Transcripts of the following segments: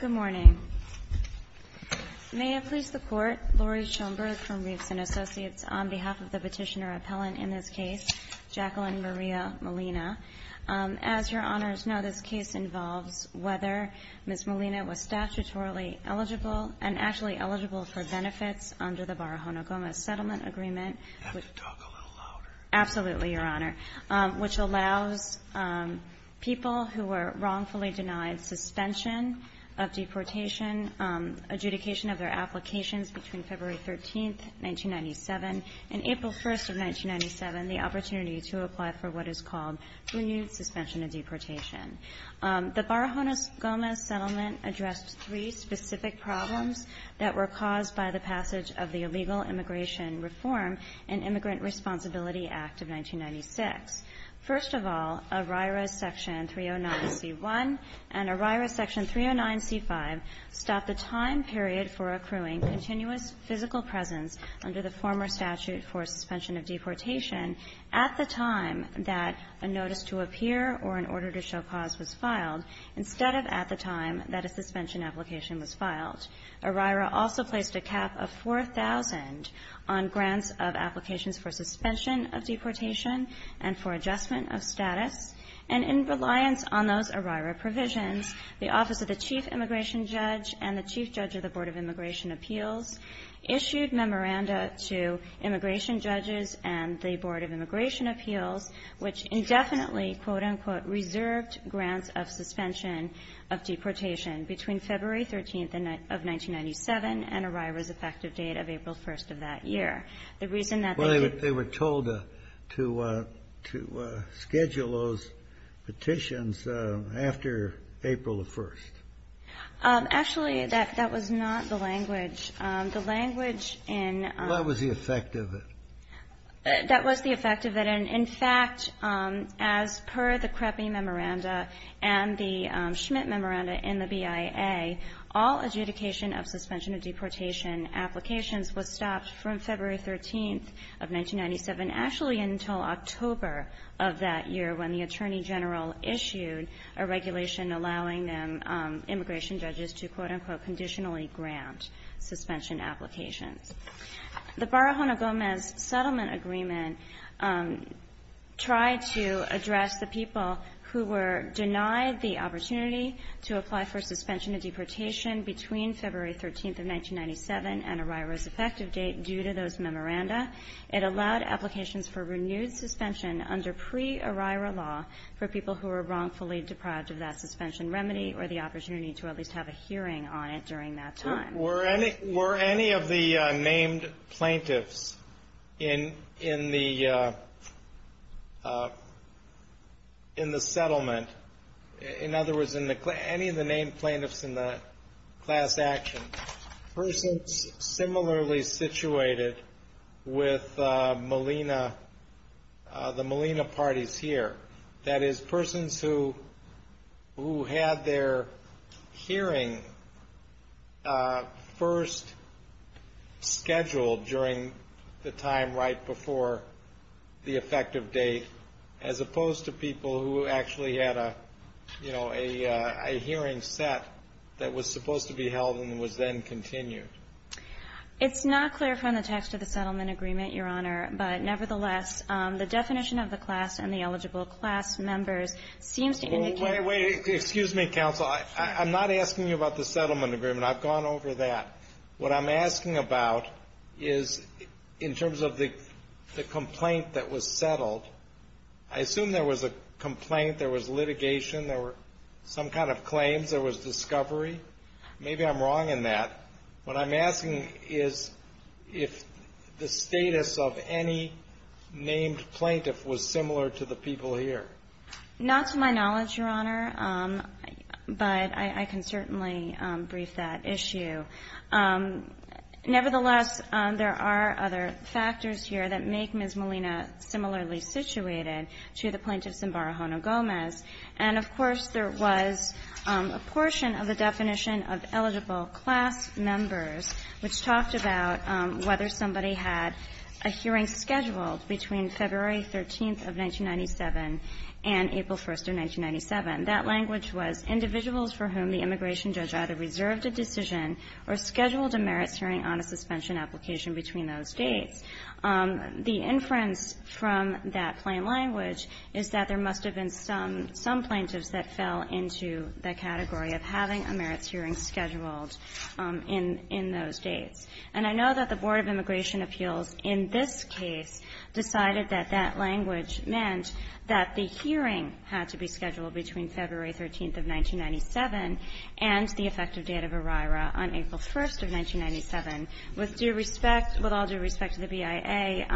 Good morning. May I please the court, Laurie Schoenberg from Riefsen Associates, on behalf of the petitioner-appellant in this case, Jacqueline Maria Molina. As your honors know, this case involves whether Ms. Molina was statutorily eligible and actually eligible for benefits under the Barahona-Gomez settlement agreement. You have to talk a little louder. Absolutely, your honor, which allows people who were wrongfully denied suspension of deportation, adjudication of their applications between February 13, 1997 and April 1, 1997, the opportunity to apply for what is called renewed suspension of deportation. The Barahona-Gomez settlement addressed three specific problems that were caused by the passage of the Illegal Immigration Reform and Immigrant Responsibility Act of 1996. First of all, ORIRA's section 309C1 and ORIRA's section 309C5 stop the time period for accruing continuous physical presence under the former statute for suspension of deportation at the time that a notice to appear or an order to show cause was filed, instead of at the time that a suspension application was filed. ORIRA also placed a cap of 4,000 on grants of applications for suspension of deportation and for adjustment of status. And in reliance on those ORIRA provisions, the Office of the Chief Immigration Judge and the Chief Judge of the Board of Immigration Appeals issued memoranda to and ORIRA's effective date of April 1st of that year. The reason that they... Well, they were told to schedule those petitions after April 1st. Actually, that was not the language. The language in... Well, that was the effect of it. That was the effect of it. And, in fact, as per the CREPI Memoranda and the Schmidt Memoranda in the BIA, all adjudication of suspension of deportation applications was stopped from February 13th of 1997, actually until October of that year when the Attorney General issued a regulation allowing immigration judges to, quote, unquote, conditionally grant suspension applications. The Barahona-Gomez Settlement Agreement tried to address the people who were denied the opportunity to apply for suspension of deportation between February 13th of 1997 and ORIRA's effective date due to those memoranda. It allowed applications for renewed suspension under pre-ORIRA law for people who were wrongfully deprived of that suspension remedy or the opportunity to at least have a hearing on it during that time. Were any of the named plaintiffs in the settlement, in other words, any of the named plaintiffs in the class action, persons similarly situated with Malena, the Malena parties here, that is, persons who had their hearing first scheduled during the time right before the effective date as opposed to people who actually had a, you know, a hearing set that was supposed to be held and was then continued? It's not clear from the text of the settlement agreement, Your Honor, but nevertheless, the definition of the class and the eligible class members seems to indicate Wait, wait. Excuse me, counsel. I'm not asking you about the settlement agreement. I've gone over that. What I'm asking about is in terms of the complaint that was settled, I assume there was a complaint, there was litigation, there were some kind of claims, there was discovery. Maybe I'm wrong in that. What I'm asking is if the status of any named plaintiff was similar to the people here. Not to my knowledge, Your Honor, but I can certainly brief that issue. Nevertheless, there are other factors here that make Ms. Malena similarly situated to the plaintiffs in Barajona-Gomez. And, of course, there was a portion of the definition of eligible class members which talked about whether somebody had a hearing scheduled between February 13th of 1997 and April 1st of 1997. That language was individuals for whom the immigration judge either reserved a decision or scheduled a merits hearing on a suspension application between those dates. The inference from that plain language is that there must have been some plaintiffs that fell into the category of having a merits hearing scheduled in those dates. And I know that the Board of Immigration Appeals in this case decided that that language meant that the hearing had to be scheduled between February 13th of 1997 and the effective date of ERIRA on April 1st of 1997. With due respect, with all due respect to the BIA,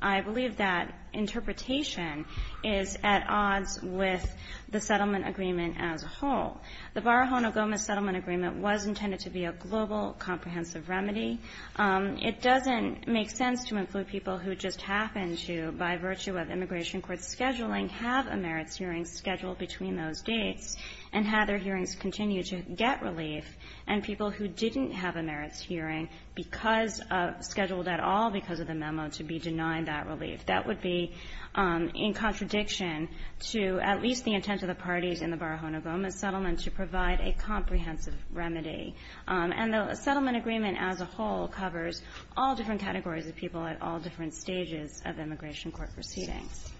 I believe that interpretation is at odds with the settlement agreement as a whole. The Barajona-Gomez settlement agreement was intended to be a global comprehensive remedy. It doesn't make sense to include people who just happen to, by virtue of immigration court scheduling, have a merits hearing scheduled between those dates and have their merits hearing, and people who didn't have a merits hearing because of the schedule at all, because of the memo, to be denied that relief. That would be in contradiction to at least the intent of the parties in the Barajona-Gomez settlement to provide a comprehensive remedy. And the settlement agreement as a whole covers all different categories of people at all different stages of immigration court proceedings.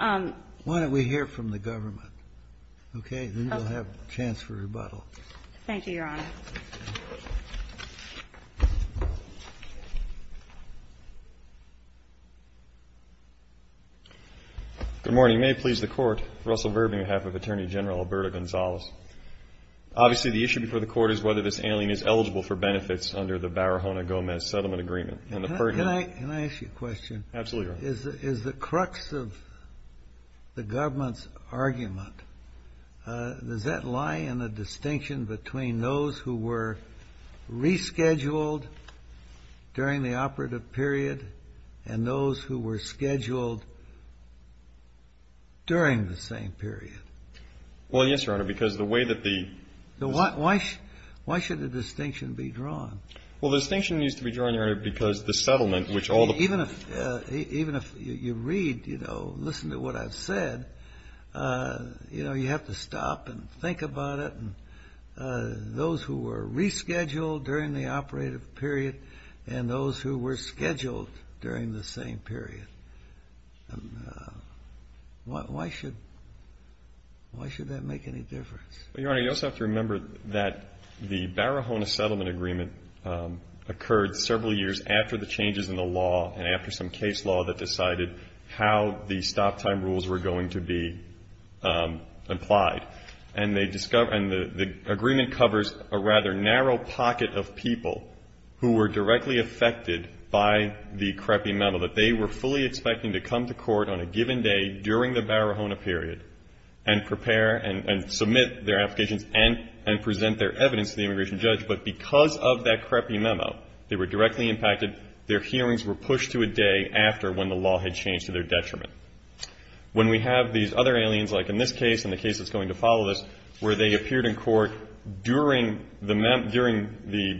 Kennedy. Why don't we hear from the government? Okay? Then we'll have a chance for rebuttal. Thank you, Your Honor. Good morning. May it please the Court. Russell Verbe, on behalf of Attorney General Alberto Gonzalez. Obviously, the issue before the Court is whether this alien is eligible for benefits under the Barajona-Gomez settlement agreement. Can I ask you a question? Absolutely, Your Honor. Is the crux of the government's argument, does that lie in the distinction between those who were rescheduled during the operative period and those who were scheduled during the same period? Well, yes, Your Honor, because the way that the ---- Why should the distinction be drawn? Well, the distinction needs to be drawn, Your Honor, because the settlement, which all the ---- Even if you read, you know, listen to what I've said, you know, you have to stop and think about it. Those who were rescheduled during the operative period and those who were scheduled during the same period. Why should that make any difference? Well, Your Honor, you also have to remember that the Barajona settlement agreement occurred several years after the changes in the law and after some case law that decided how the stop time rules were going to be applied. And the agreement covers a rather narrow pocket of people who were directly affected by the crappy memo that they were fully expecting to come to court on a given day during the Barajona period and prepare and submit their applications and present their evidence to the immigration judge. But because of that crappy memo, they were directly impacted. Their hearings were pushed to a day after when the law had changed to their detriment. When we have these other aliens, like in this case and the case that's going to follow this, where they appeared in court during the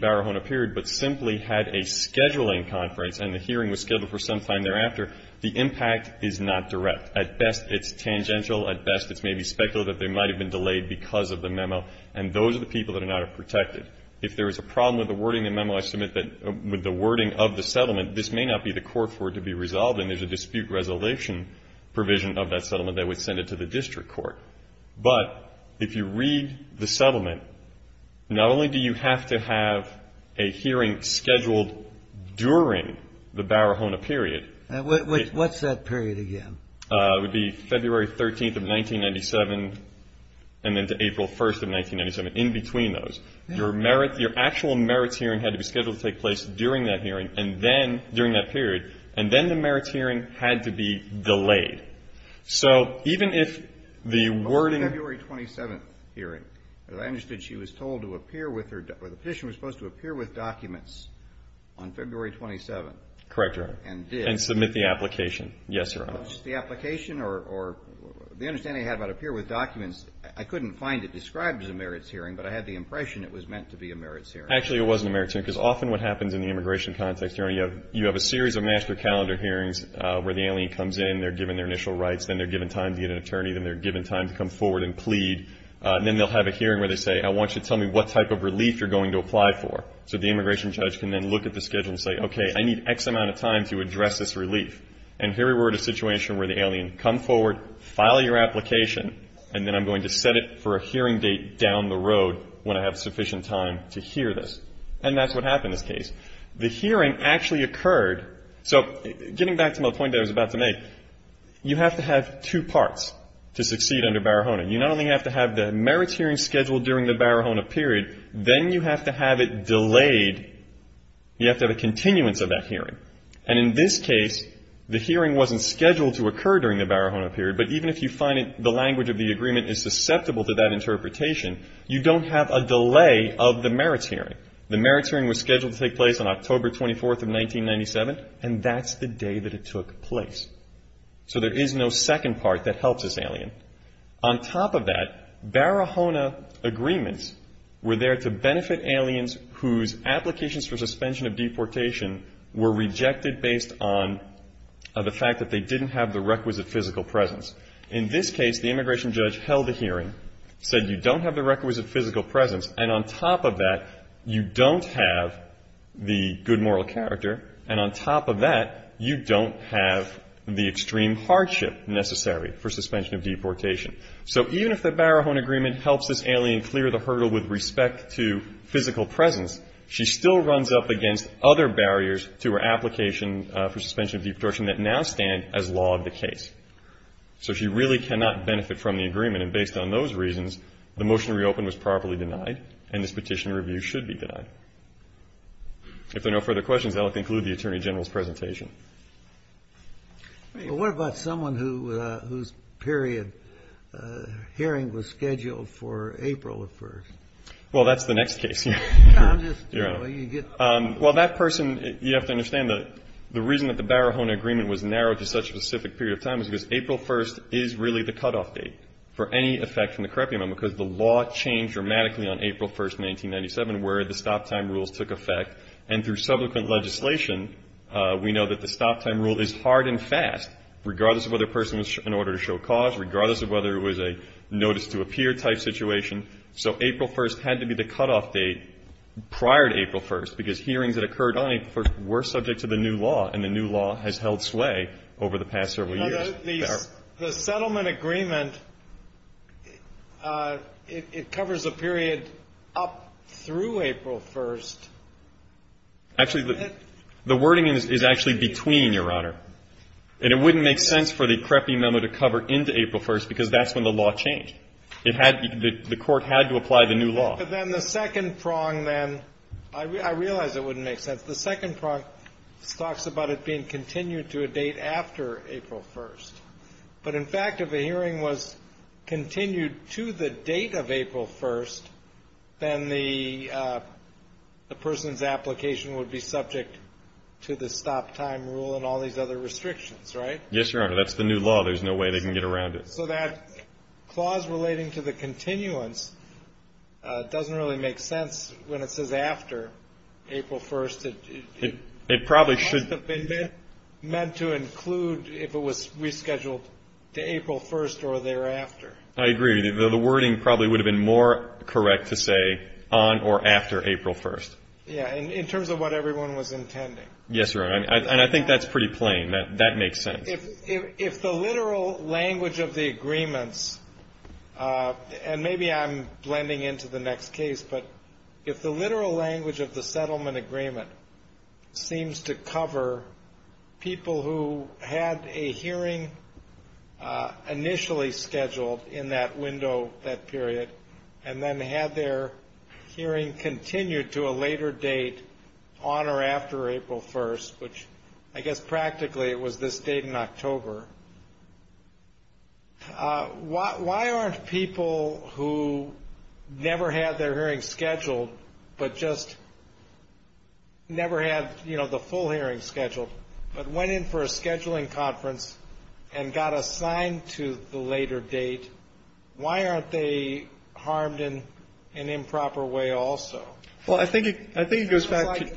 Barajona period but simply had a scheduling conference and the hearing was scheduled for some time thereafter, the impact is not direct. At best, it's tangential. At best, it's maybe speculative. They might have been delayed because of the memo. And those are the people that are not protected. If there is a problem with the wording of the memo, I submit that with the wording of the settlement, this may not be the court for it to be resolved and there's a dispute resolution provision of that settlement that would send it to the district court. But if you read the settlement, not only do you have to have a hearing scheduled during the Barajona period. What's that period again? It would be February 13th of 1997 and then to April 1st of 1997, in between those. Your merit, your actual merits hearing had to be scheduled to take place during that hearing and then, during that period, and then the merits hearing had to be delayed. So even if the wording. February 27th hearing. As I understood, she was told to appear with her, the petitioner was supposed to appear with documents on February 27th. Correct, Your Honor. And did. And submit the application. Yes, Your Honor. The application or the understanding I had about appear with documents, I couldn't find it described as a merits hearing, but I had the impression it was meant to be a merits hearing. Actually, it was a merits hearing because often what happens in the immigration context, Your Honor, you have a series of master calendar hearings where the alien comes in, they're given their initial rights, then they're given time to get an attorney, then they're given time to come forward and plead, and then they'll have a hearing where they say, I want you to tell me what type of relief you're going to apply for. So the immigration judge can then look at the schedule and say, okay, I need X amount of time to address this relief. And here we were in a situation where the alien come forward, file your application, and then I'm going to set it for a hearing date down the road when I have sufficient time to hear this. And that's what happened in this case. The hearing actually occurred. So getting back to my point that I was about to make, you have to have two parts to succeed under Barahona. You not only have to have the merits hearing scheduled during the Barahona period, then you have to have it delayed, you have to have a continuance of that hearing. And in this case, the hearing wasn't scheduled to occur during the Barahona period, but even if you find the language of the agreement is susceptible to that interpretation, you don't have a delay of the merits hearing. The merits hearing was scheduled to take place on October 24th of 1997, and that's the day that it took place. So there is no second part that helps this alien. On top of that, Barahona agreements were there to benefit aliens whose applications for suspension of deportation were rejected based on the fact that they didn't have the requisite physical presence. In this case, the immigration judge held the hearing, said you don't have the requisite physical presence, and on top of that, you don't have the good moral character, and on top of that, you don't have the extreme hardship necessary for suspension of deportation. So even if the Barahona agreement helps this alien clear the hurdle with respect to physical presence, she still runs up against other barriers to her application for suspension of deportation that now stand as law of the case. So she really cannot benefit from the agreement, and based on those reasons, the motion to reopen was properly denied, and this petition review should be denied. If there are no further questions, I'll conclude the Attorney General's presentation. Well, what about someone whose period hearing was scheduled for April 1st? Well, that's the next case. Your Honor. Well, that person, you have to understand, the reason that the Barahona agreement was narrowed to such a specific period of time is because April 1st is really the cutoff date for any effect from the crepe amendment, because the law changed dramatically on April 1st, 1997, where the stop-time rules took effect. And through subsequent legislation, we know that the stop-time rule is hard and fast, regardless of whether a person was in order to show cause, regardless of whether it was a notice-to-appear type situation. So April 1st had to be the cutoff date prior to April 1st, because hearings that occurred on April 1st were subject to the new law, and the new law has held sway over the past several years. The settlement agreement, it covers a period up through April 1st. Actually, the wording is actually between, Your Honor. And it wouldn't make sense for the crepe memo to cover into April 1st, because that's when the law changed. It had to be the court had to apply the new law. But then the second prong, then, I realize it wouldn't make sense. The second prong talks about it being continued to a date after April 1st. But, in fact, if a hearing was continued to the date of April 1st, then the person's application would be subject to the stop-time rule and all these other restrictions, right? Yes, Your Honor. That's the new law. There's no way they can get around it. So that clause relating to the continuance doesn't really make sense when it says after April 1st. It probably should have been meant to include if it was rescheduled to April 1st or thereafter. I agree. The wording probably would have been more correct to say on or after April 1st. Yeah, in terms of what everyone was intending. Yes, Your Honor. And I think that's pretty plain. That makes sense. If the literal language of the agreements, and maybe I'm blending into the next case, but if the literal language of the settlement agreement seems to cover people who had a hearing initially scheduled in that window, that period, and then had their hearing continued to a later date on or after April 1st, which I guess practically it was this late in October, why aren't people who never had their hearing scheduled, but just never had the full hearing scheduled, but went in for a scheduling conference and got assigned to the later date, why aren't they harmed in an improper way also? Well, I think it goes back to...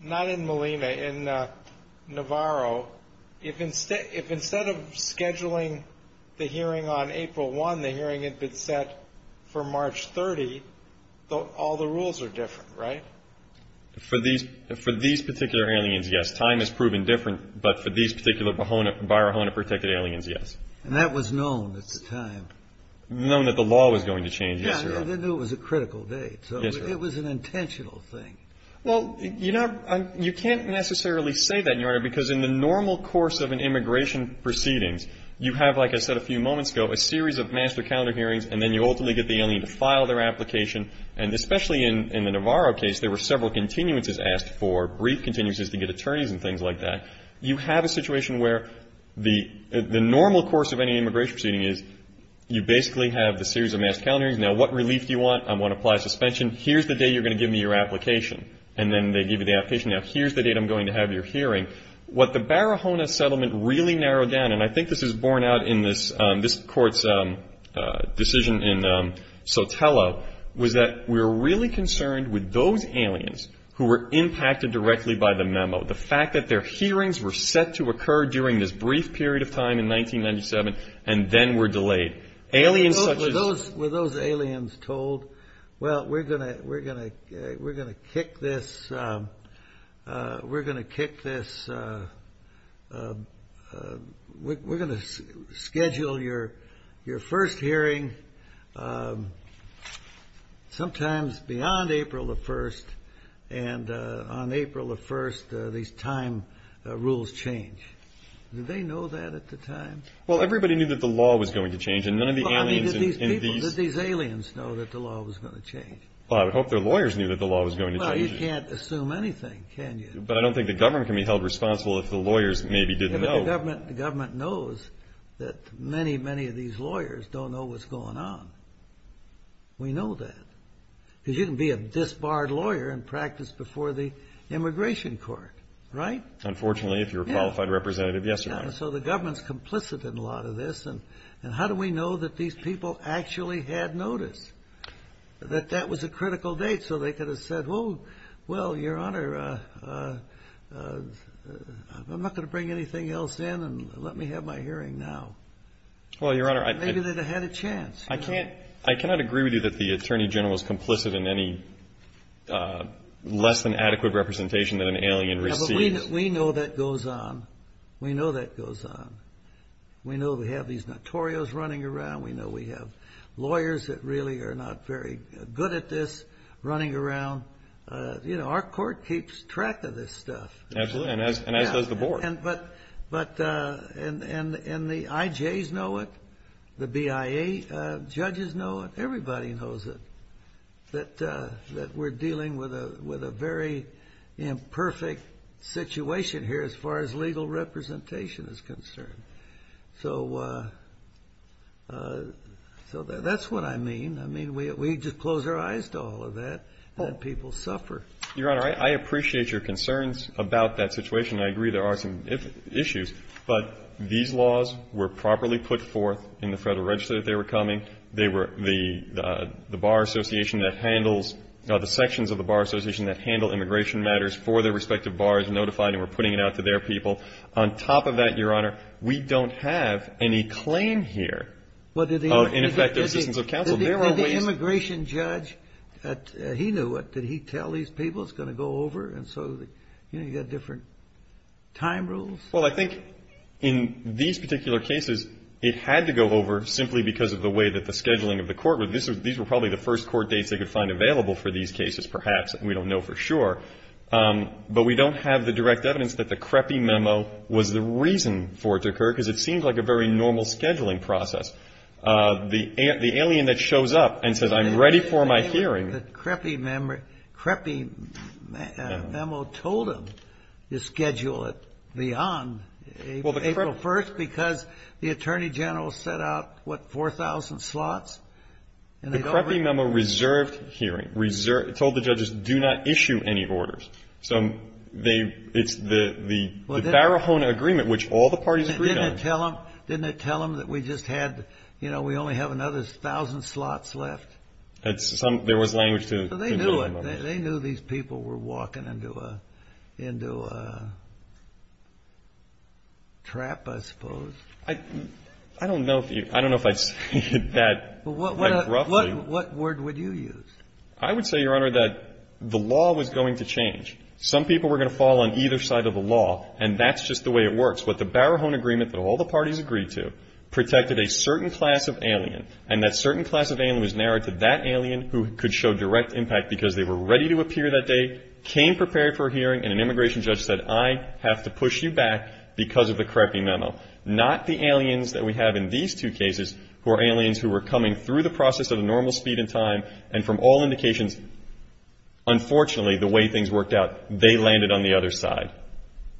Not in Molina, in Navarro. If instead of scheduling the hearing on April 1, the hearing had been set for March 30, all the rules are different, right? For these particular aliens, yes. Time has proven different, but for these particular Bajorahona protected aliens, yes. And that was known at the time. Known that the law was going to change, yes, Your Honor. Yeah, they knew it was a critical date. Yes, Your Honor. So it was an intentional thing. Well, you can't necessarily say that, Your Honor, because in the normal course of an immigration proceedings, you have, like I said a few moments ago, a series of master calendar hearings, and then you ultimately get the alien to file their application. And especially in the Navarro case, there were several continuances asked for, brief continuances to get attorneys and things like that. You have a situation where the normal course of any immigration proceeding is you basically have the series of master calendars. Now, what relief do you want? I want to apply suspension. Here's the date you're going to give me your application. And then they give you the application. Now, here's the date I'm going to have your hearing. What the Bajorahona settlement really narrowed down, and I think this was borne out in this Court's decision in Sotelo, was that we were really concerned with those aliens who were impacted directly by the memo. The fact that their hearings were set to occur during this brief period of time in 1997, and then were delayed. Were those aliens told, well, we're going to schedule your first hearing sometimes beyond April the 1st, and on April the 1st, these time rules change. Did they know that at the time? Well, everybody knew that the law was going to change, and none of the aliens in these... Well, I mean, did these people, did these aliens know that the law was going to change? Well, I would hope their lawyers knew that the law was going to change. Well, you can't assume anything, can you? But I don't think the government can be held responsible if the lawyers maybe didn't know. But the government knows that many, many of these lawyers don't know what's going on. We know that. Because you can be a disbarred lawyer and practice before the Immigration Court, right? Unfortunately, if you're a qualified representative, yes, Your Honor. So the government's complicit in a lot of this, and how do we know that these people actually had notice, that that was a critical date, so they could have said, well, Your Honor, I'm not going to bring anything else in, and let me have my hearing now. Well, Your Honor, I... Maybe they'd have had a chance. I cannot agree with you that the Attorney General is complicit in any less than adequate representation that an alien receives. But we know that goes on. We know that goes on. We know we have these notorious running around. We know we have lawyers that really are not very good at this running around. You know, our court keeps track of this stuff. Absolutely, and as does the Board. And the IJs know it. The BIA judges know it. Everybody knows it, that we're dealing with a very imperfect situation here as far as legal representation is concerned. So that's what I mean. I mean, we just close our eyes to all of that, and people suffer. Your Honor, I appreciate your concerns about that situation, and I agree there are some issues. But these laws were properly put forth in the Federal Register that they were coming. They were the bar association that handles or the sections of the bar association that handle immigration matters for their respective bars notified and were putting it out to their people. On top of that, Your Honor, we don't have any claim here of ineffective assistance of counsel. Did the immigration judge, he knew it. Did he tell these people it's going to go over? And so, you know, you've got different time rules. Well, I think in these particular cases, it had to go over simply because of the way that the scheduling of the court was. These were probably the first court dates they could find available for these cases, perhaps. We don't know for sure. But we don't have the direct evidence that the Crepy memo was the reason for it to occur, because it seems like a very normal scheduling process. The alien that shows up and says, I'm ready for my hearing. The Crepy memo told them to schedule it beyond April 1st because the attorney general set out, what, 4,000 slots? The Crepy memo reserved hearing, told the judges do not issue any orders. So it's the Barahona agreement, which all the parties agreed on. Didn't it tell them that we just had, you know, we only have another 1,000 slots left? There was language to the Crepy memo. They knew these people were walking into a trap, I suppose. I don't know if I'd say it that roughly. What word would you use? I would say, Your Honor, that the law was going to change. Some people were going to fall on either side of the law, and that's just the way it works. But the Barahona agreement that all the parties agreed to protected a certain class of alien, and that certain class of alien was narrowed to that alien who could show direct impact because they were ready to appear that day, came prepared for a hearing, and an immigration judge said, I have to push you back because of the Crepy memo. Not the aliens that we have in these two cases, who are aliens who were coming through the process at a normal speed and time, and from all indications, unfortunately, the way things worked out, they landed on the other side.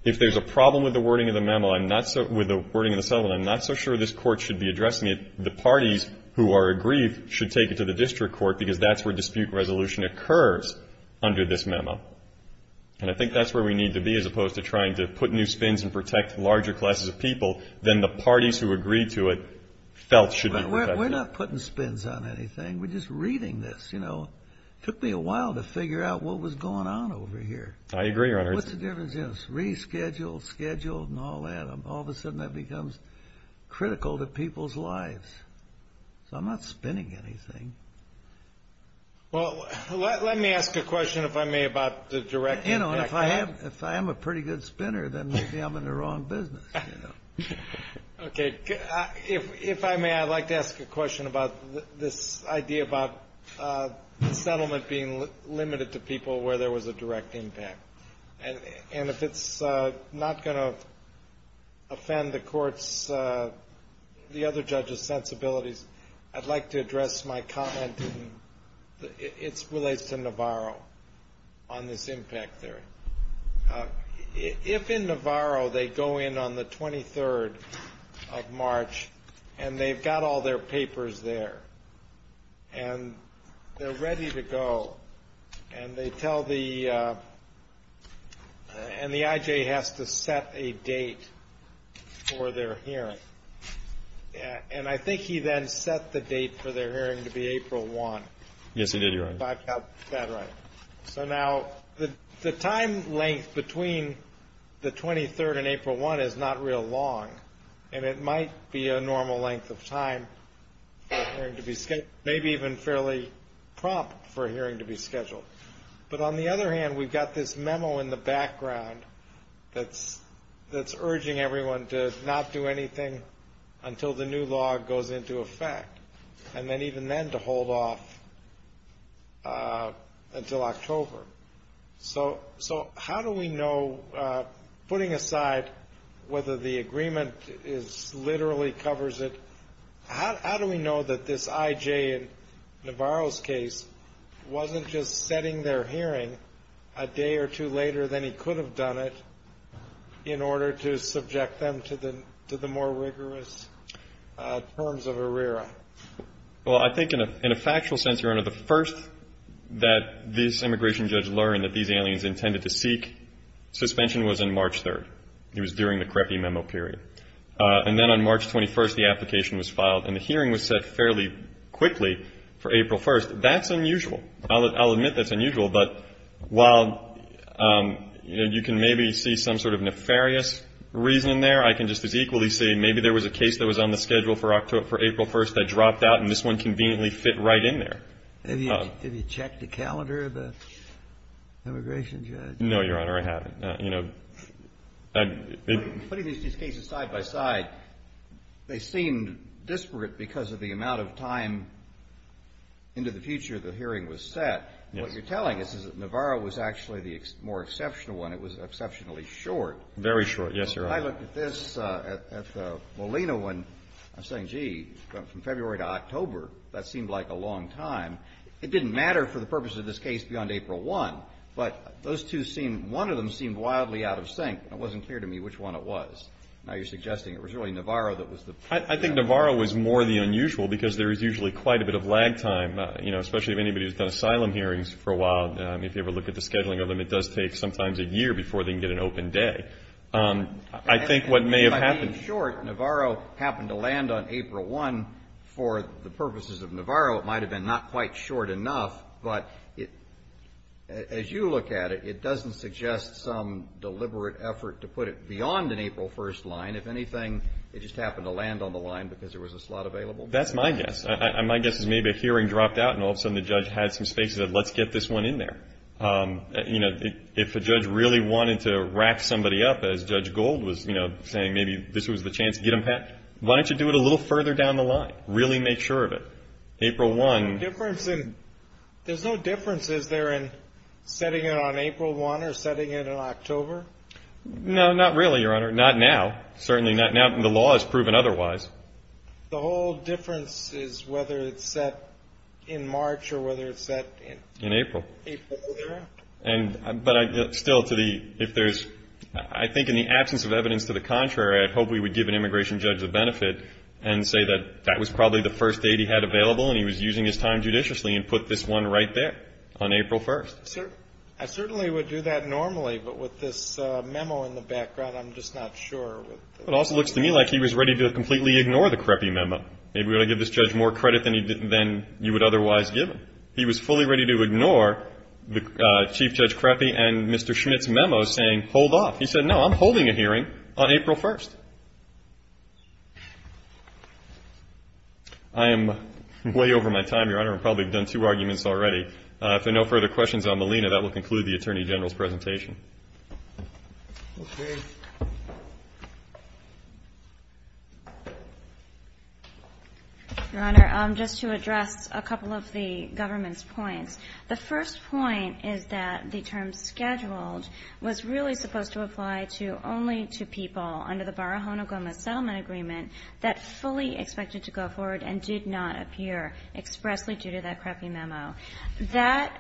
If there's a problem with the wording of the memo, with the wording of the settlement, I'm not so sure this Court should be addressing it. The parties who are aggrieved should take it to the district court because that's where dispute resolution occurs under this memo. And I think that's where we need to be as opposed to trying to put new spins and protect larger classes of people, than the parties who agreed to it felt should be protected. We're not putting spins on anything. We're just reading this, you know. It took me a while to figure out what was going on over here. I agree, Your Honor. What's the difference in this? Rescheduled, scheduled, and all that. All of a sudden, that becomes critical to people's lives. So I'm not spinning anything. Well, let me ask a question, if I may, about the direct impact. You know, if I am a pretty good spinner, then maybe I'm in the wrong business, you know. Okay. If I may, I'd like to ask a question about this idea about the settlement being limited to people where there was a direct impact. And if it's not going to offend the Court's, the other judges' sensibilities, I'd like to address my comment. It relates to Navarro on this impact theory. If in Navarro they go in on the 23rd of March and they've got all their papers there, and they're ready to go, and they tell the – and the I.J. has to set a date for their hearing. And I think he then set the date for their hearing to be April 1. Yes, he did, Your Honor. Is that right? So now the time length between the 23rd and April 1 is not real long, and it might be a normal length of time for a hearing to be scheduled, maybe even fairly prompt for a hearing to be scheduled. But on the other hand, we've got this memo in the background that's urging everyone to not do anything until the new law goes into effect, and then even then to hold off until October. So how do we know, putting aside whether the agreement literally covers it, how do we know that this I.J. in Navarro's case wasn't just setting their hearing a day or two later than he could have done it in order to subject them to the more rigorous terms of ARERA? Well, I think in a factual sense, Your Honor, the first that this immigration judge learned that these aliens intended to seek suspension was on March 3. It was during the CREPI memo period. And then on March 21, the application was filed, and the hearing was set fairly quickly for April 1. That's unusual. I'll admit that's unusual, but while you can maybe see some sort of nefarious reason there, I can just as equally say maybe there was a case that was on the schedule for April 1 that dropped out, and this one conveniently fit right in there. Have you checked the calendar of the immigration judge? No, Your Honor, I haven't. Putting these cases side by side, they seem disparate because of the amount of time into the future the hearing was set. What you're telling us is that Navarro was actually the more exceptional one. It was exceptionally short. Very short, yes, Your Honor. I looked at this, at the Molina one. I'm saying, gee, from February to October, that seemed like a long time. It didn't matter for the purpose of this case beyond April 1, but those two seem, one of them seemed wildly out of sync, and it wasn't clear to me which one it was. Now you're suggesting it was really Navarro that was the... I think Navarro was more the unusual because there is usually quite a bit of lag time, you know, especially if anybody has done asylum hearings for a while. If you ever look at the scheduling of them, it does take sometimes a year before they can get an open day. I think what may have happened... And by being short, Navarro happened to land on April 1. For the purposes of Navarro, it might have been not quite short enough, but as you look at it, it doesn't suggest some deliberate effort to put it beyond an April 1 line. If anything, it just happened to land on the line because there was a slot available. That's my guess. My guess is maybe a hearing dropped out and all of a sudden the judge had some space and said, let's get this one in there. If a judge really wanted to wrap somebody up, as Judge Gold was saying, maybe this was the chance to get them packed, why don't you do it a little further down the line? Really make sure of it. April 1... There's no difference, is there, in setting it on April 1 or setting it on October? No, not really, Your Honor. Not now. Certainly not now. The law has proven otherwise. The whole difference is whether it's set in March or whether it's set in... In April. April 1. But still, if there's... I think in the absence of evidence to the contrary, I'd hope we would give an immigration judge the benefit and say that that was probably the first date he had available and he was using his time judiciously and put this one right there on April 1. I certainly would do that normally, but with this memo in the background, I'm just not sure. It also looks to me like he was ready to completely ignore the creppy memo. Maybe we ought to give this judge more credit than you would otherwise give him. He was fully ready to ignore Chief Judge Creppy and Mr. Schmitt's memo saying, hold off. He said, no, I'm holding a hearing on April 1. I am way over my time, Your Honor. I probably have done two arguments already. If there are no further questions on Molina, that will conclude the Attorney General's presentation. Okay. Thank you. Your Honor, just to address a couple of the government's points, the first point is that the term scheduled was really supposed to apply to only to people under the Barahona-Gomez settlement agreement that fully expected to go forward and did not appear expressly due to that creppy memo. That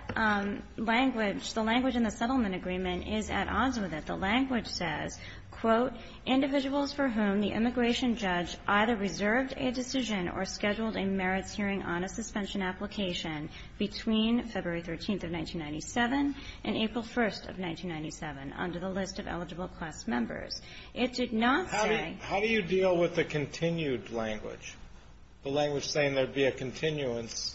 language, the language in the settlement agreement is at odds with it. The language says, quote, individuals for whom the immigration judge either reserved a decision or scheduled a merits hearing on a suspension application between February 13th of 1997 and April 1st of 1997 under the list of eligible class members. It did not say ---- How do you deal with the continued language, the language saying there would be a continuance?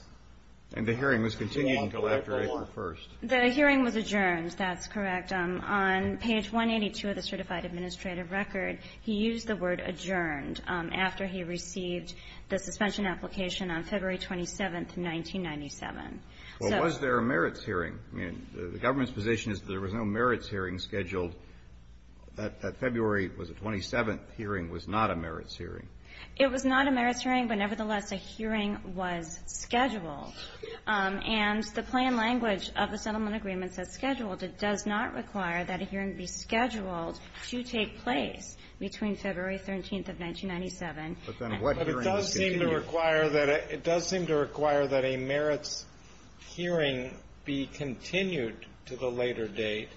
And the hearing was continued until after April 1st. The hearing was adjourned. That's correct. On page 182 of the certified administrative record, he used the word adjourned after he received the suspension application on February 27th, 1997. So ---- Well, was there a merits hearing? I mean, the government's position is there was no merits hearing scheduled. That February was the 27th hearing was not a merits hearing. It was not a merits hearing, but nevertheless, a hearing was scheduled. And the plan language of the settlement agreement says scheduled. It does not require that a hearing be scheduled to take place between February 13th of 1997. But then what hearing is continued? But it does seem to require that a merits hearing be continued to the later date.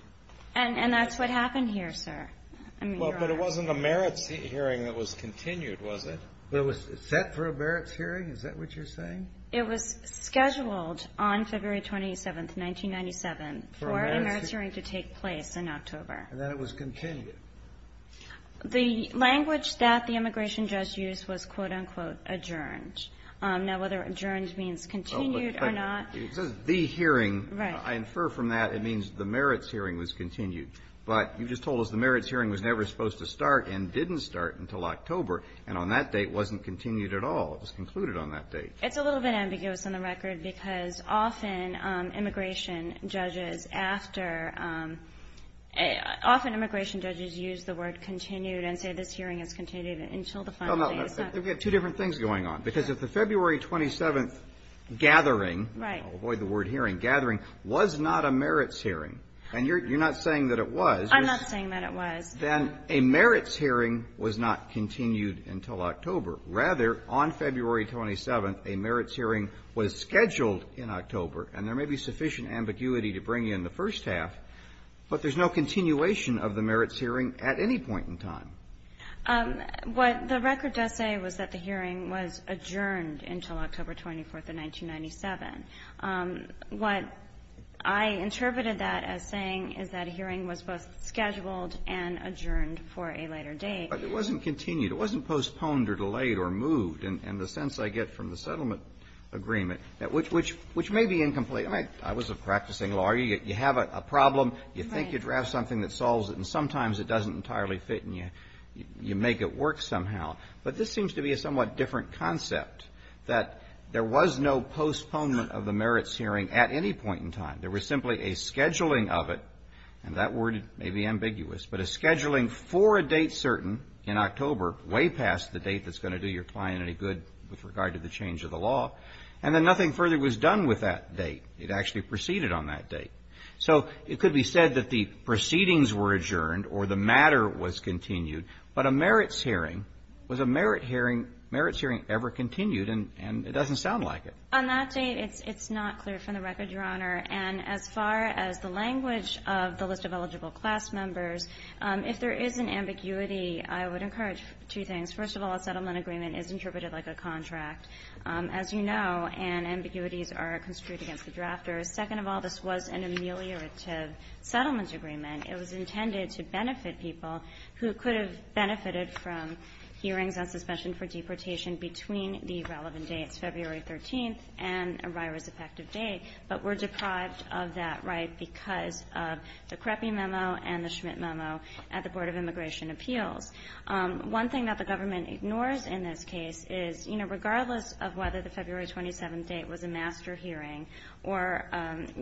And that's what happened here, sir. I mean, there are ---- Well, but it wasn't a merits hearing that was continued, was it? It was set for a merits hearing? Is that what you're saying? It was scheduled on February 27th, 1997 for a merits hearing to take place in October. And then it was continued. The language that the immigration judge used was, quote, unquote, adjourned. Now, whether adjourned means continued or not ---- It says the hearing. Right. I infer from that it means the merits hearing was continued. But you just told us the merits hearing was never supposed to start and didn't start until October. And on that date, it wasn't continued at all. It was concluded on that date. It's a little bit ambiguous on the record because often immigration judges, after ---- often immigration judges use the word continued and say this hearing is continued until the final date. No, no. We have two different things going on. Because if the February 27th gathering ---- Right. I'll avoid the word hearing. Gathering was not a merits hearing. And you're not saying that it was. I'm not saying that it was. Then a merits hearing was not continued until October. Rather, on February 27th, a merits hearing was scheduled in October. And there may be sufficient ambiguity to bring in the first half, but there's no continuation of the merits hearing at any point in time. What the record does say was that the hearing was adjourned until October 24th of 1997. What I interpreted that as saying is that a hearing was both scheduled and adjourned for a later date. But it wasn't continued. It wasn't postponed or delayed or moved in the sense I get from the settlement agreement, which may be incomplete. I was a practicing lawyer. You have a problem, you think you draft something that solves it, and sometimes it doesn't entirely fit and you make it work somehow. But this seems to be a somewhat different concept, that there was no postponement of the merits hearing at any point in time. There was simply a scheduling of it, and that word may be ambiguous, but a scheduling for a date certain in October, way past the date that's going to do your client any good with regard to the change of the law, and then nothing further was done with that date. It actually proceeded on that date. So it could be said that the proceedings were adjourned or the matter was continued, but a merits hearing, was a merits hearing ever continued? And it doesn't sound like it. On that date, it's not clear from the record, Your Honor. And as far as the language of the list of eligible class members, if there is an ambiguity, I would encourage two things. First of all, a settlement agreement is interpreted like a contract. As you know, and ambiguities are construed against the drafters. Second of all, this was an ameliorative settlement agreement. It was intended to benefit people who could have benefited from hearings on suspension for deportation between the relevant dates, February 13th and a RIROS-effective date, but were deprived of that right because of the CREPI memo and the Schmidt memo at the Board of Immigration Appeals. One thing that the government ignores in this case is, you know, regardless of whether the February 27th date was a master hearing or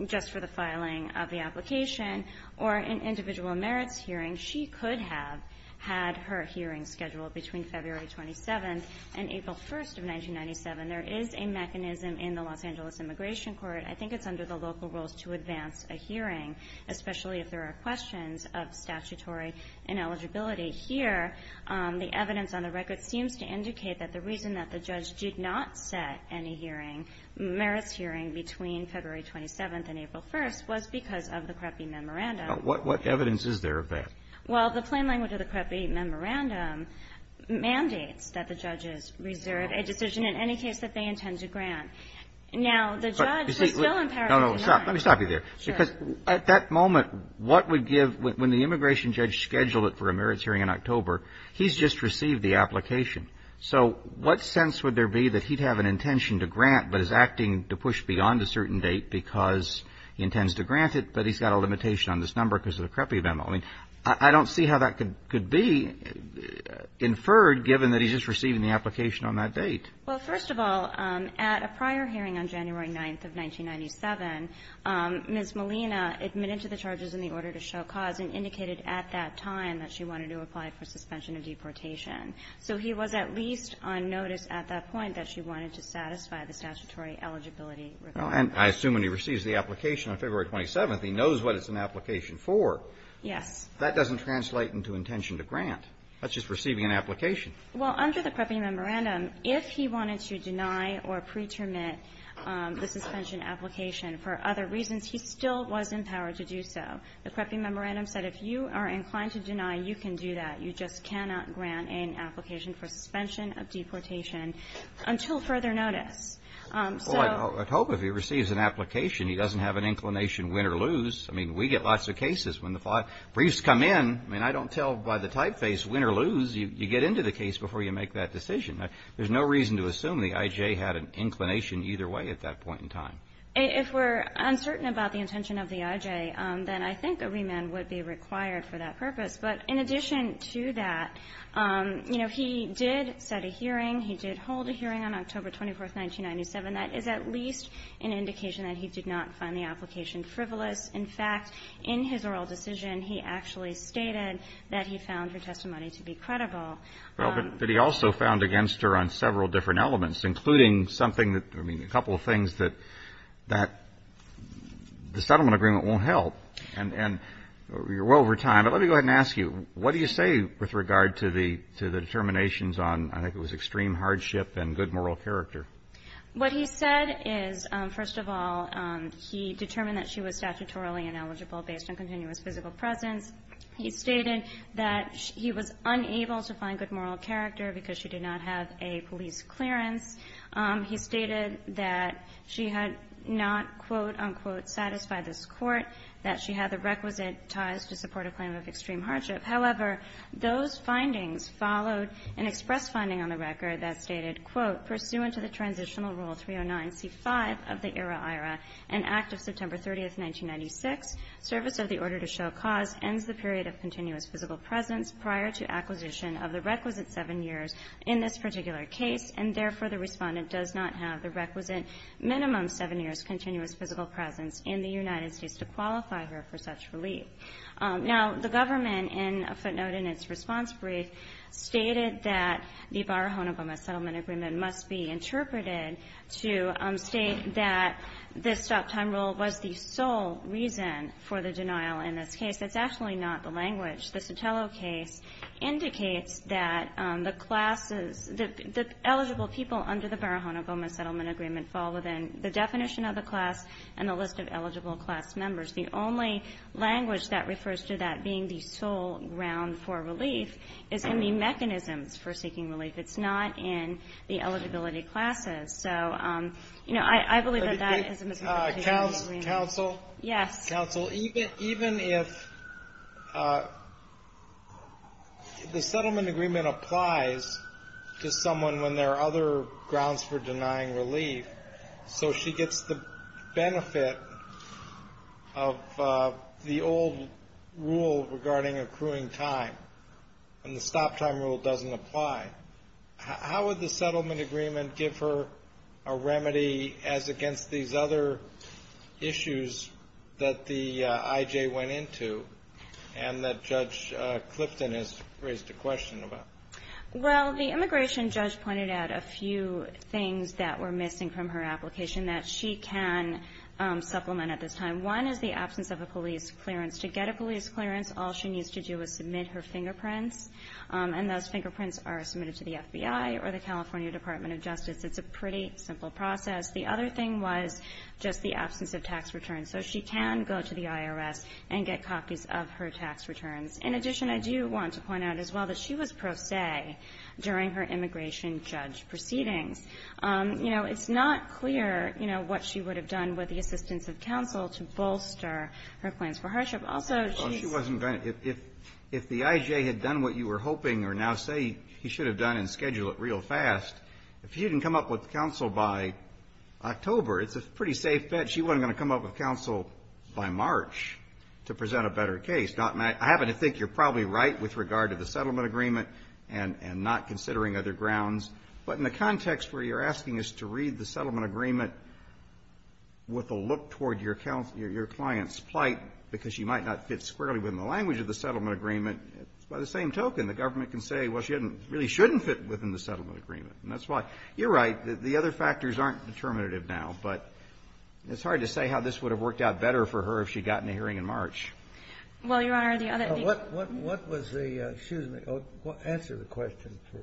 just for the filing of the application or an individual merits hearing, she could have had her hearings scheduled between February 27th and April 1st of 1997. There is a mechanism in the Los Angeles Immigration Court. I think it's under the local rules to advance a hearing, especially if there are questions of statutory ineligibility. Here, the evidence on the record seems to indicate that the reason that the judge did not set any hearing, merits hearing, between February 27th and April 1st was because of the CREPI memorandum. What evidence is there of that? Well, the plain language of the CREPI memorandum mandates that the judges reserve a decision in any case that they intend to grant. Now, the judge was still empowered to deny it. No, no. Stop. Let me stop you there. Because at that moment, what would give – when the immigration judge scheduled it for a merits hearing in October, he's just received the application. So what sense would there be that he'd have an intention to grant but is acting to push beyond a certain date because he intends to grant it, but he's got a limitation on this number because of the CREPI memo? I mean, I don't see how that could be inferred, given that he's just receiving the application on that date. Well, first of all, at a prior hearing on January 9th of 1997, Ms. Molina admitted to the charges in the order to show cause and indicated at that time that she wanted to apply for suspension of deportation. So he was at least on notice at that point that she wanted to satisfy the statutory eligibility requirement. Well, and I assume when he receives the application on February 27th, he knows what it's an application for. Yes. That doesn't translate into intention to grant. That's just receiving an application. Well, under the CREPI memorandum, if he wanted to deny or pre-terminate the suspension application for other reasons, he still was empowered to do so. The CREPI memorandum said if you are inclined to deny, you can do that. You just cannot grant an application for suspension of deportation until further notice. So ---- Well, I hope if he receives an application, he doesn't have an inclination win or lose. I mean, we get lots of cases when the briefs come in. I mean, I don't tell by the typeface win or lose. You get into the case before you make that decision. There's no reason to assume the I.J. had an inclination either way at that point in time. If we're uncertain about the intention of the I.J., then I think a remand would be required for that purpose. But in addition to that, you know, he did set a hearing. He did hold a hearing on October 24th, 1997. That is at least an indication that he did not find the application frivolous. In fact, in his oral decision, he actually stated that he found her testimony to be credible. Well, but he also found against her on several different elements, including something that ---- I mean, a couple of things that the settlement agreement won't help. And you're well over time. But let me go ahead and ask you, what do you say with regard to the determinations on, I think it was extreme hardship and good moral character? What he said is, first of all, he determined that she was statutorily ineligible based on continuous physical presence. He stated that he was unable to find good moral character because she did not have a police clearance. He stated that she had not, quote, unquote, satisfied this court, that she had the requisite ties to support a claim of extreme hardship. However, those findings followed an express finding on the record that stated, quote, pursuant to the transitional rule 309C5 of the ERA-IRA, an act of September 30th, 1996, service of the order to show cause ends the period of continuous physical presence prior to acquisition of the requisite 7 years in this particular case. And therefore, the respondent does not have the requisite minimum 7 years continuous physical presence in the United States to qualify her for such relief. Now, the government, in a footnote in its response brief, stated that the Barahona Goma Settlement Agreement must be interpreted to state that this stop-time rule was the sole reason for the denial in this case. That's actually not the language. The Sotelo case indicates that the classes, the eligible people under the Barahona Goma Settlement Agreement fall within the definition of the class and the list of eligible class members. The only language that refers to that being the sole ground for relief is in the mechanisms for seeking relief. It's not in the eligibility classes. So, you know, I believe that that is a misinterpretation. Counsel? Yes. Counsel, even if the settlement agreement applies to someone when there are other grounds for denying relief, so she gets the benefit of the old rule regarding accruing time and the stop-time rule doesn't apply, how would the settlement agreement give her a remedy as against these other issues that the IJ went into and that Judge Clifton has raised a question about? Well, the immigration judge pointed out a few things that were missing from her application that she can supplement at this time. One is the absence of a police clearance. To get a police clearance, all she needs to do is submit her fingerprints, and those fingerprints are submitted to the FBI or the California Department of Justice. It's a pretty simple process. The other thing was just the absence of tax returns. So she can go to the IRS and get copies of her tax returns. In addition, I do want to point out as well that she was pro se during her immigration judge proceedings. You know, it's not clear, you know, what she would have done with the assistance of counsel to bolster her claims for hardship. Also, she wasn't going to – if the IJ had done what you were hoping or now say he should have done and scheduled it real fast, if she didn't come up with counsel by October, it's a pretty safe bet she wasn't going to come up with counsel by March to present a better case. I happen to think you're probably right with regard to the settlement agreement and not considering other grounds, but in the context where you're asking us to read the settlement agreement with a look toward your client's plight because she might not fit squarely within the language of the settlement agreement, by the same token, the government can say, well, she really shouldn't fit within the settlement agreement, and that's why. You're right. The other factors aren't determinative now, but it's hard to say how this would have worked out better for her if she'd gotten a hearing in March. Well, Your Honor, the other thing – What was the – excuse me. Answer the question first.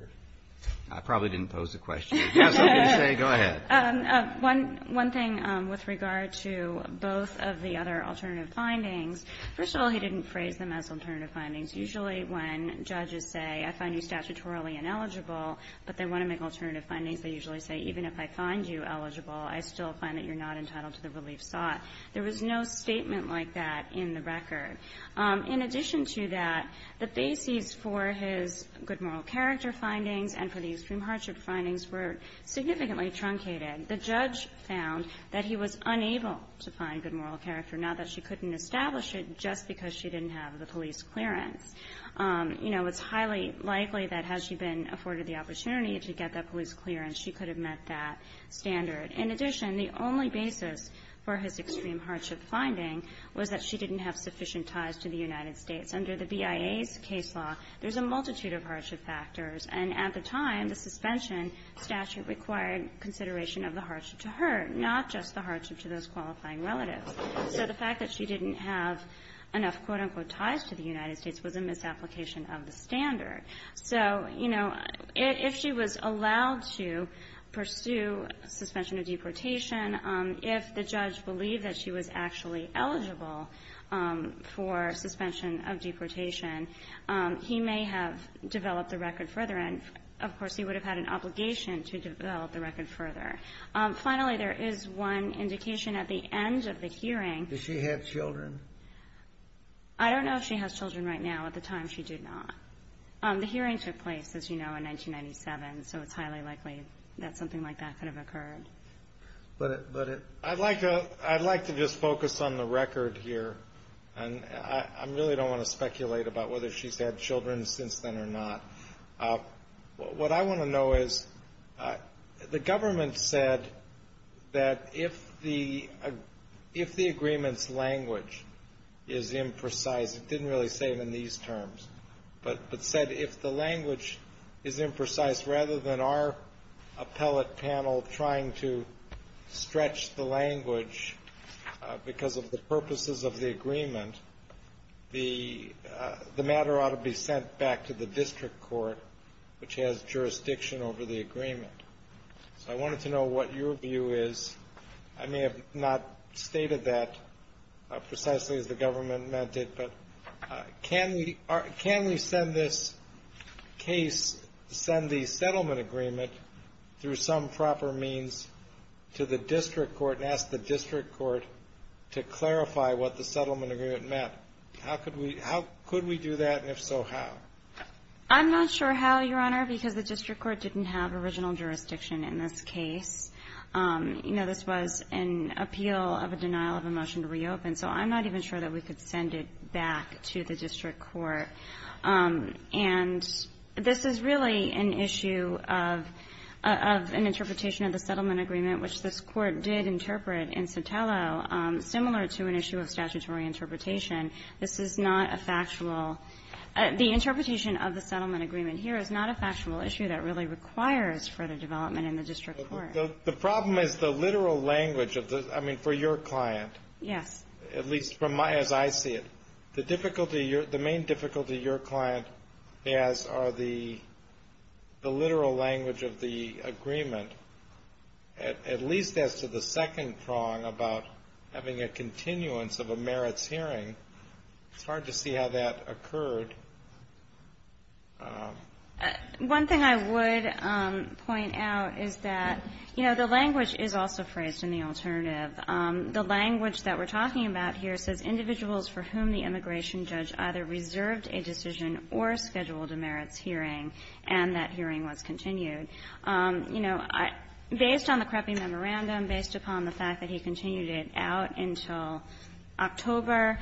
I probably didn't pose the question. Go ahead. One thing with regard to both of the other alternative findings, first of all, he didn't phrase them as alternative findings. Usually when judges say, I find you statutorily ineligible, but they want to make alternative findings, they usually say, even if I find you eligible, I still find that you're not entitled to the relief sought. There was no statement like that in the record. In addition to that, the bases for his good moral character findings and for the extreme hardship findings were significantly truncated. The judge found that he was unable to find good moral character, not that she couldn't establish it, just because she didn't have the police clearance. You know, it's highly likely that had she been afforded the opportunity to get that police clearance, she could have met that standard. In addition, the only basis for his extreme hardship finding was that she didn't have sufficient ties to the United States. Under the BIA's case law, there's a multitude of hardship factors. And at the time, the suspension statute required consideration of the hardship to her, not just the hardship to those qualifying relatives. So the fact that she didn't have enough, quote, unquote, ties to the United States was a misapplication of the standard. So, you know, if she was allowed to pursue suspension of deportation, if the judge believed that she was actually eligible for suspension of deportation, he may have developed the record further. And, of course, he would have had an obligation to develop the record further. Finally, there is one indication at the end of the hearing. Did she have children? I don't know if she has children right now. At the time, she did not. The hearing took place, as you know, in 1997. So it's highly likely that something like that could have occurred. But it – I'd like to just focus on the record here. And I really don't want to speculate about whether she's had children since then or not. What I want to know is, the government said that if the agreement's language is imprecise, it didn't really say it in these terms, but said if the language is imprecise, rather than our appellate panel trying to stretch the language because of the purposes of the agreement, the matter ought to be sent back to the district court, which has jurisdiction over the agreement. So I wanted to know what your view is. I may have not stated that precisely as the government meant it, but can we send this case, send the settlement agreement through some proper means to the district court and ask the district court to clarify what the settlement agreement meant? How could we do that, and if so, how? I'm not sure how, Your Honor, because the district court didn't have original jurisdiction in this case. You know, this was an appeal of a denial of a motion to reopen. So I'm not even sure that we could send it back to the district court. And this is really an issue of an interpretation of the settlement agreement, which this Court did interpret in Sotelo similar to an issue of statutory interpretation. This is not a factual – the interpretation of the settlement agreement here is not a factual issue that really requires further development in the district court. The problem is the literal language of the – I mean, for your client. Yes. At least from my – as I see it. The difficulty – the main difficulty your client has are the literal language of the agreement, at least as to the second prong about having a continuance of a merits hearing. It's hard to see how that occurred. One thing I would point out is that, you know, the language is also phrased in the alternative. The language that we're talking about here says individuals for whom the immigration judge either reserved a decision or scheduled a merits hearing, and that hearing was continued. You know, based on the creppy memorandum, based upon the fact that he continued it out until October,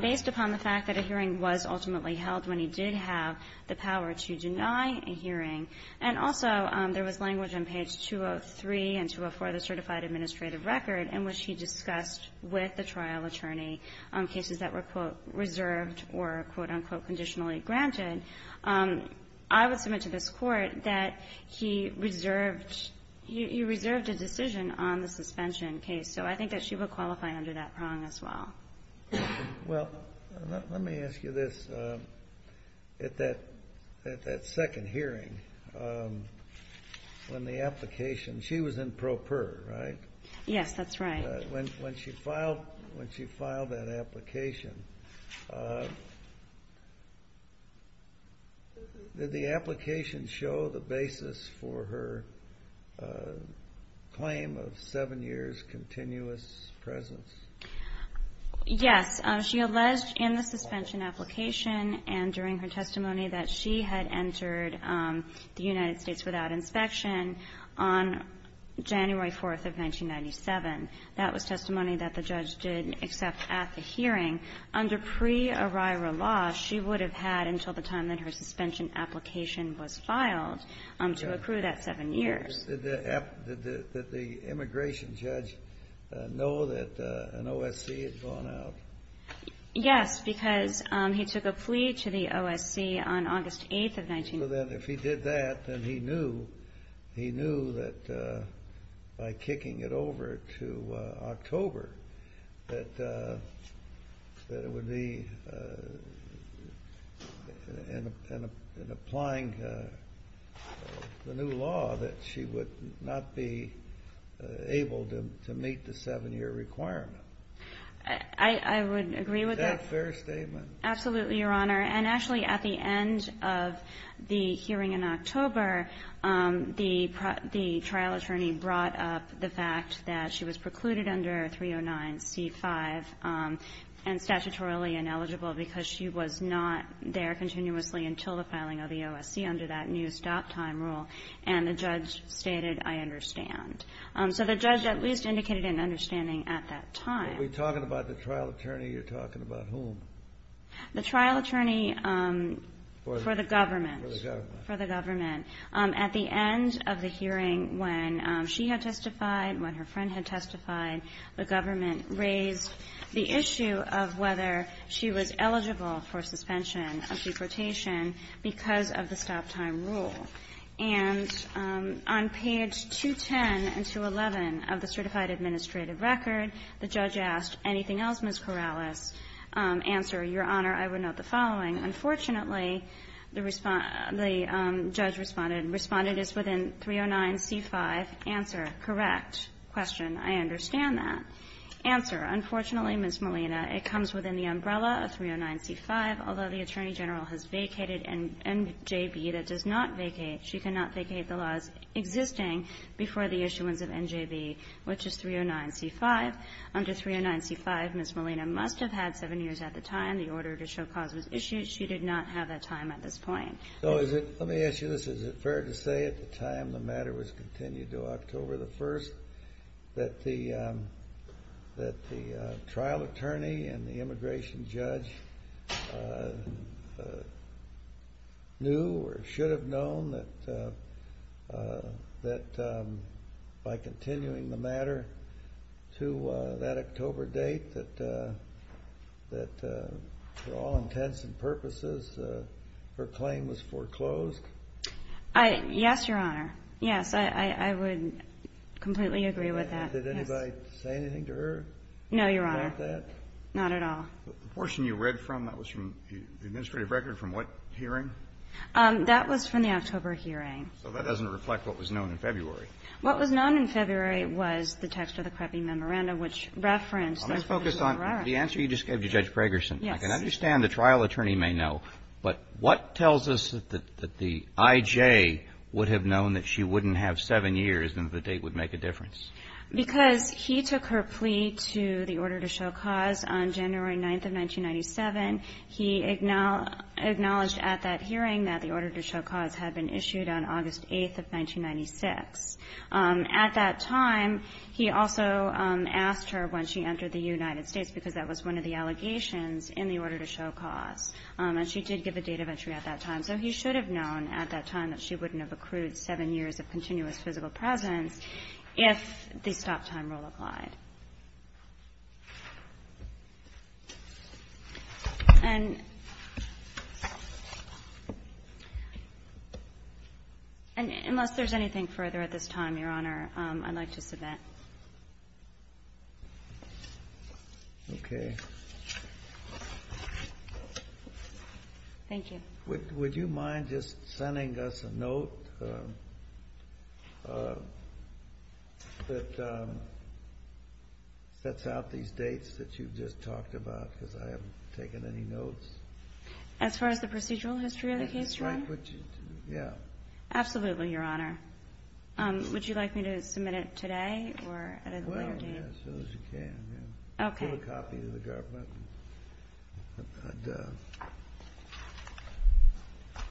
based upon the fact that a hearing was ultimately held when he did have the power to deny a hearing, and also there was language on page 203 and 204 of the certified administrative record in which he discussed with the trial attorney cases that were, quote, reserved or, quote, unquote, conditionally granted, I would submit to this Court that he reserved – he reserved a decision on the suspension case. So I think that she would qualify under that prong as well. Well, let me ask you this. At that second hearing, when the application – she was in pro per, right? Yes, that's right. When she filed that application, did the application show the basis for her claim of seven years' continuous presence? Yes. She alleged in the suspension application and during her testimony that she had entered the United States without inspection on January 4th of 1997. That was testimony that the judge did accept at the hearing. Under pre-arrival law, she would have had until the time that her suspension application was filed to accrue that seven years. Did the immigration judge know that an OSC had gone out? Yes, because he took a plea to the OSC on August 8th of 1997. Well, then, if he did that, then he knew that by kicking it over to October that it would be, in applying the new law, that she would not be able to meet the seven-year requirement. I would agree with that. Is that a fair statement? Absolutely, Your Honor. And actually, at the end of the hearing in October, the trial attorney brought up the fact that she was precluded under 309C5 and statutorily ineligible because she was not there continuously until the filing of the OSC under that new stop-time rule, and the judge stated, I understand. So the judge at least indicated an understanding at that time. Are we talking about the trial attorney or are you talking about whom? The trial attorney for the government. For the government. For the government. At the end of the hearing, when she had testified, when her friend had testified, the government raised the issue of whether she was eligible for suspension of deportation because of the stop-time rule. And on page 210 and 211 of the Certified Administrative Record, the judge asked, anything else, Ms. Corrales? Answer, Your Honor, I would note the following. Unfortunately, the judge responded, responded as within 309C5. Answer, correct. Question, I understand that. Answer, unfortunately, Ms. Molina, it comes within the umbrella of 309C5, although the Attorney General has vacated NJB that does not vacate, she cannot vacate the laws existing before the issuance of NJB, which is 309C5. Under 309C5, Ms. Molina must have had seven years at the time the order to show her cause was issued. She did not have that time at this point. Let me ask you this. Is it fair to say at the time the matter was continued to October 1st that the trial attorney and the immigration judge knew or should have known that by the time the case was closed, the case was closed? Yes, Your Honor. Yes, I would completely agree with that, yes. Did anybody say anything to her about that? No, Your Honor, not at all. The portion you read from, that was from the administrative record, from what hearing? That was from the October hearing. So that doesn't reflect what was known in February. What was known in February was the text of the CREBI memorandum, which referenced the case. I'm going to focus on the answer you just gave to Judge Gregerson. Yes. I can understand the trial attorney may know, but what tells us that the I.J. would have known that she wouldn't have seven years and that the date would make a difference? Because he took her plea to the order to show cause on January 9th of 1997. He acknowledged at that hearing that the order to show cause had been issued on August 8th of 1996. At that time, he also asked her when she entered the United States, because that was one of the allegations in the order to show cause. And she did give a date of entry at that time. So he should have known at that time that she wouldn't have accrued seven years of continuous physical presence if the stop time rule applied. And unless there's anything further at this time, Your Honor, I'd like to submit. Okay. Thank you. Would you mind just sending us a note that sets out these dates that you've just talked about? Because I haven't taken any notes. As far as the procedural history of the case, Your Honor? Yeah. Absolutely, Your Honor. Would you like me to submit it today or at a later date? Well, yeah, as soon as you can. Okay. I'll mail a copy to the government.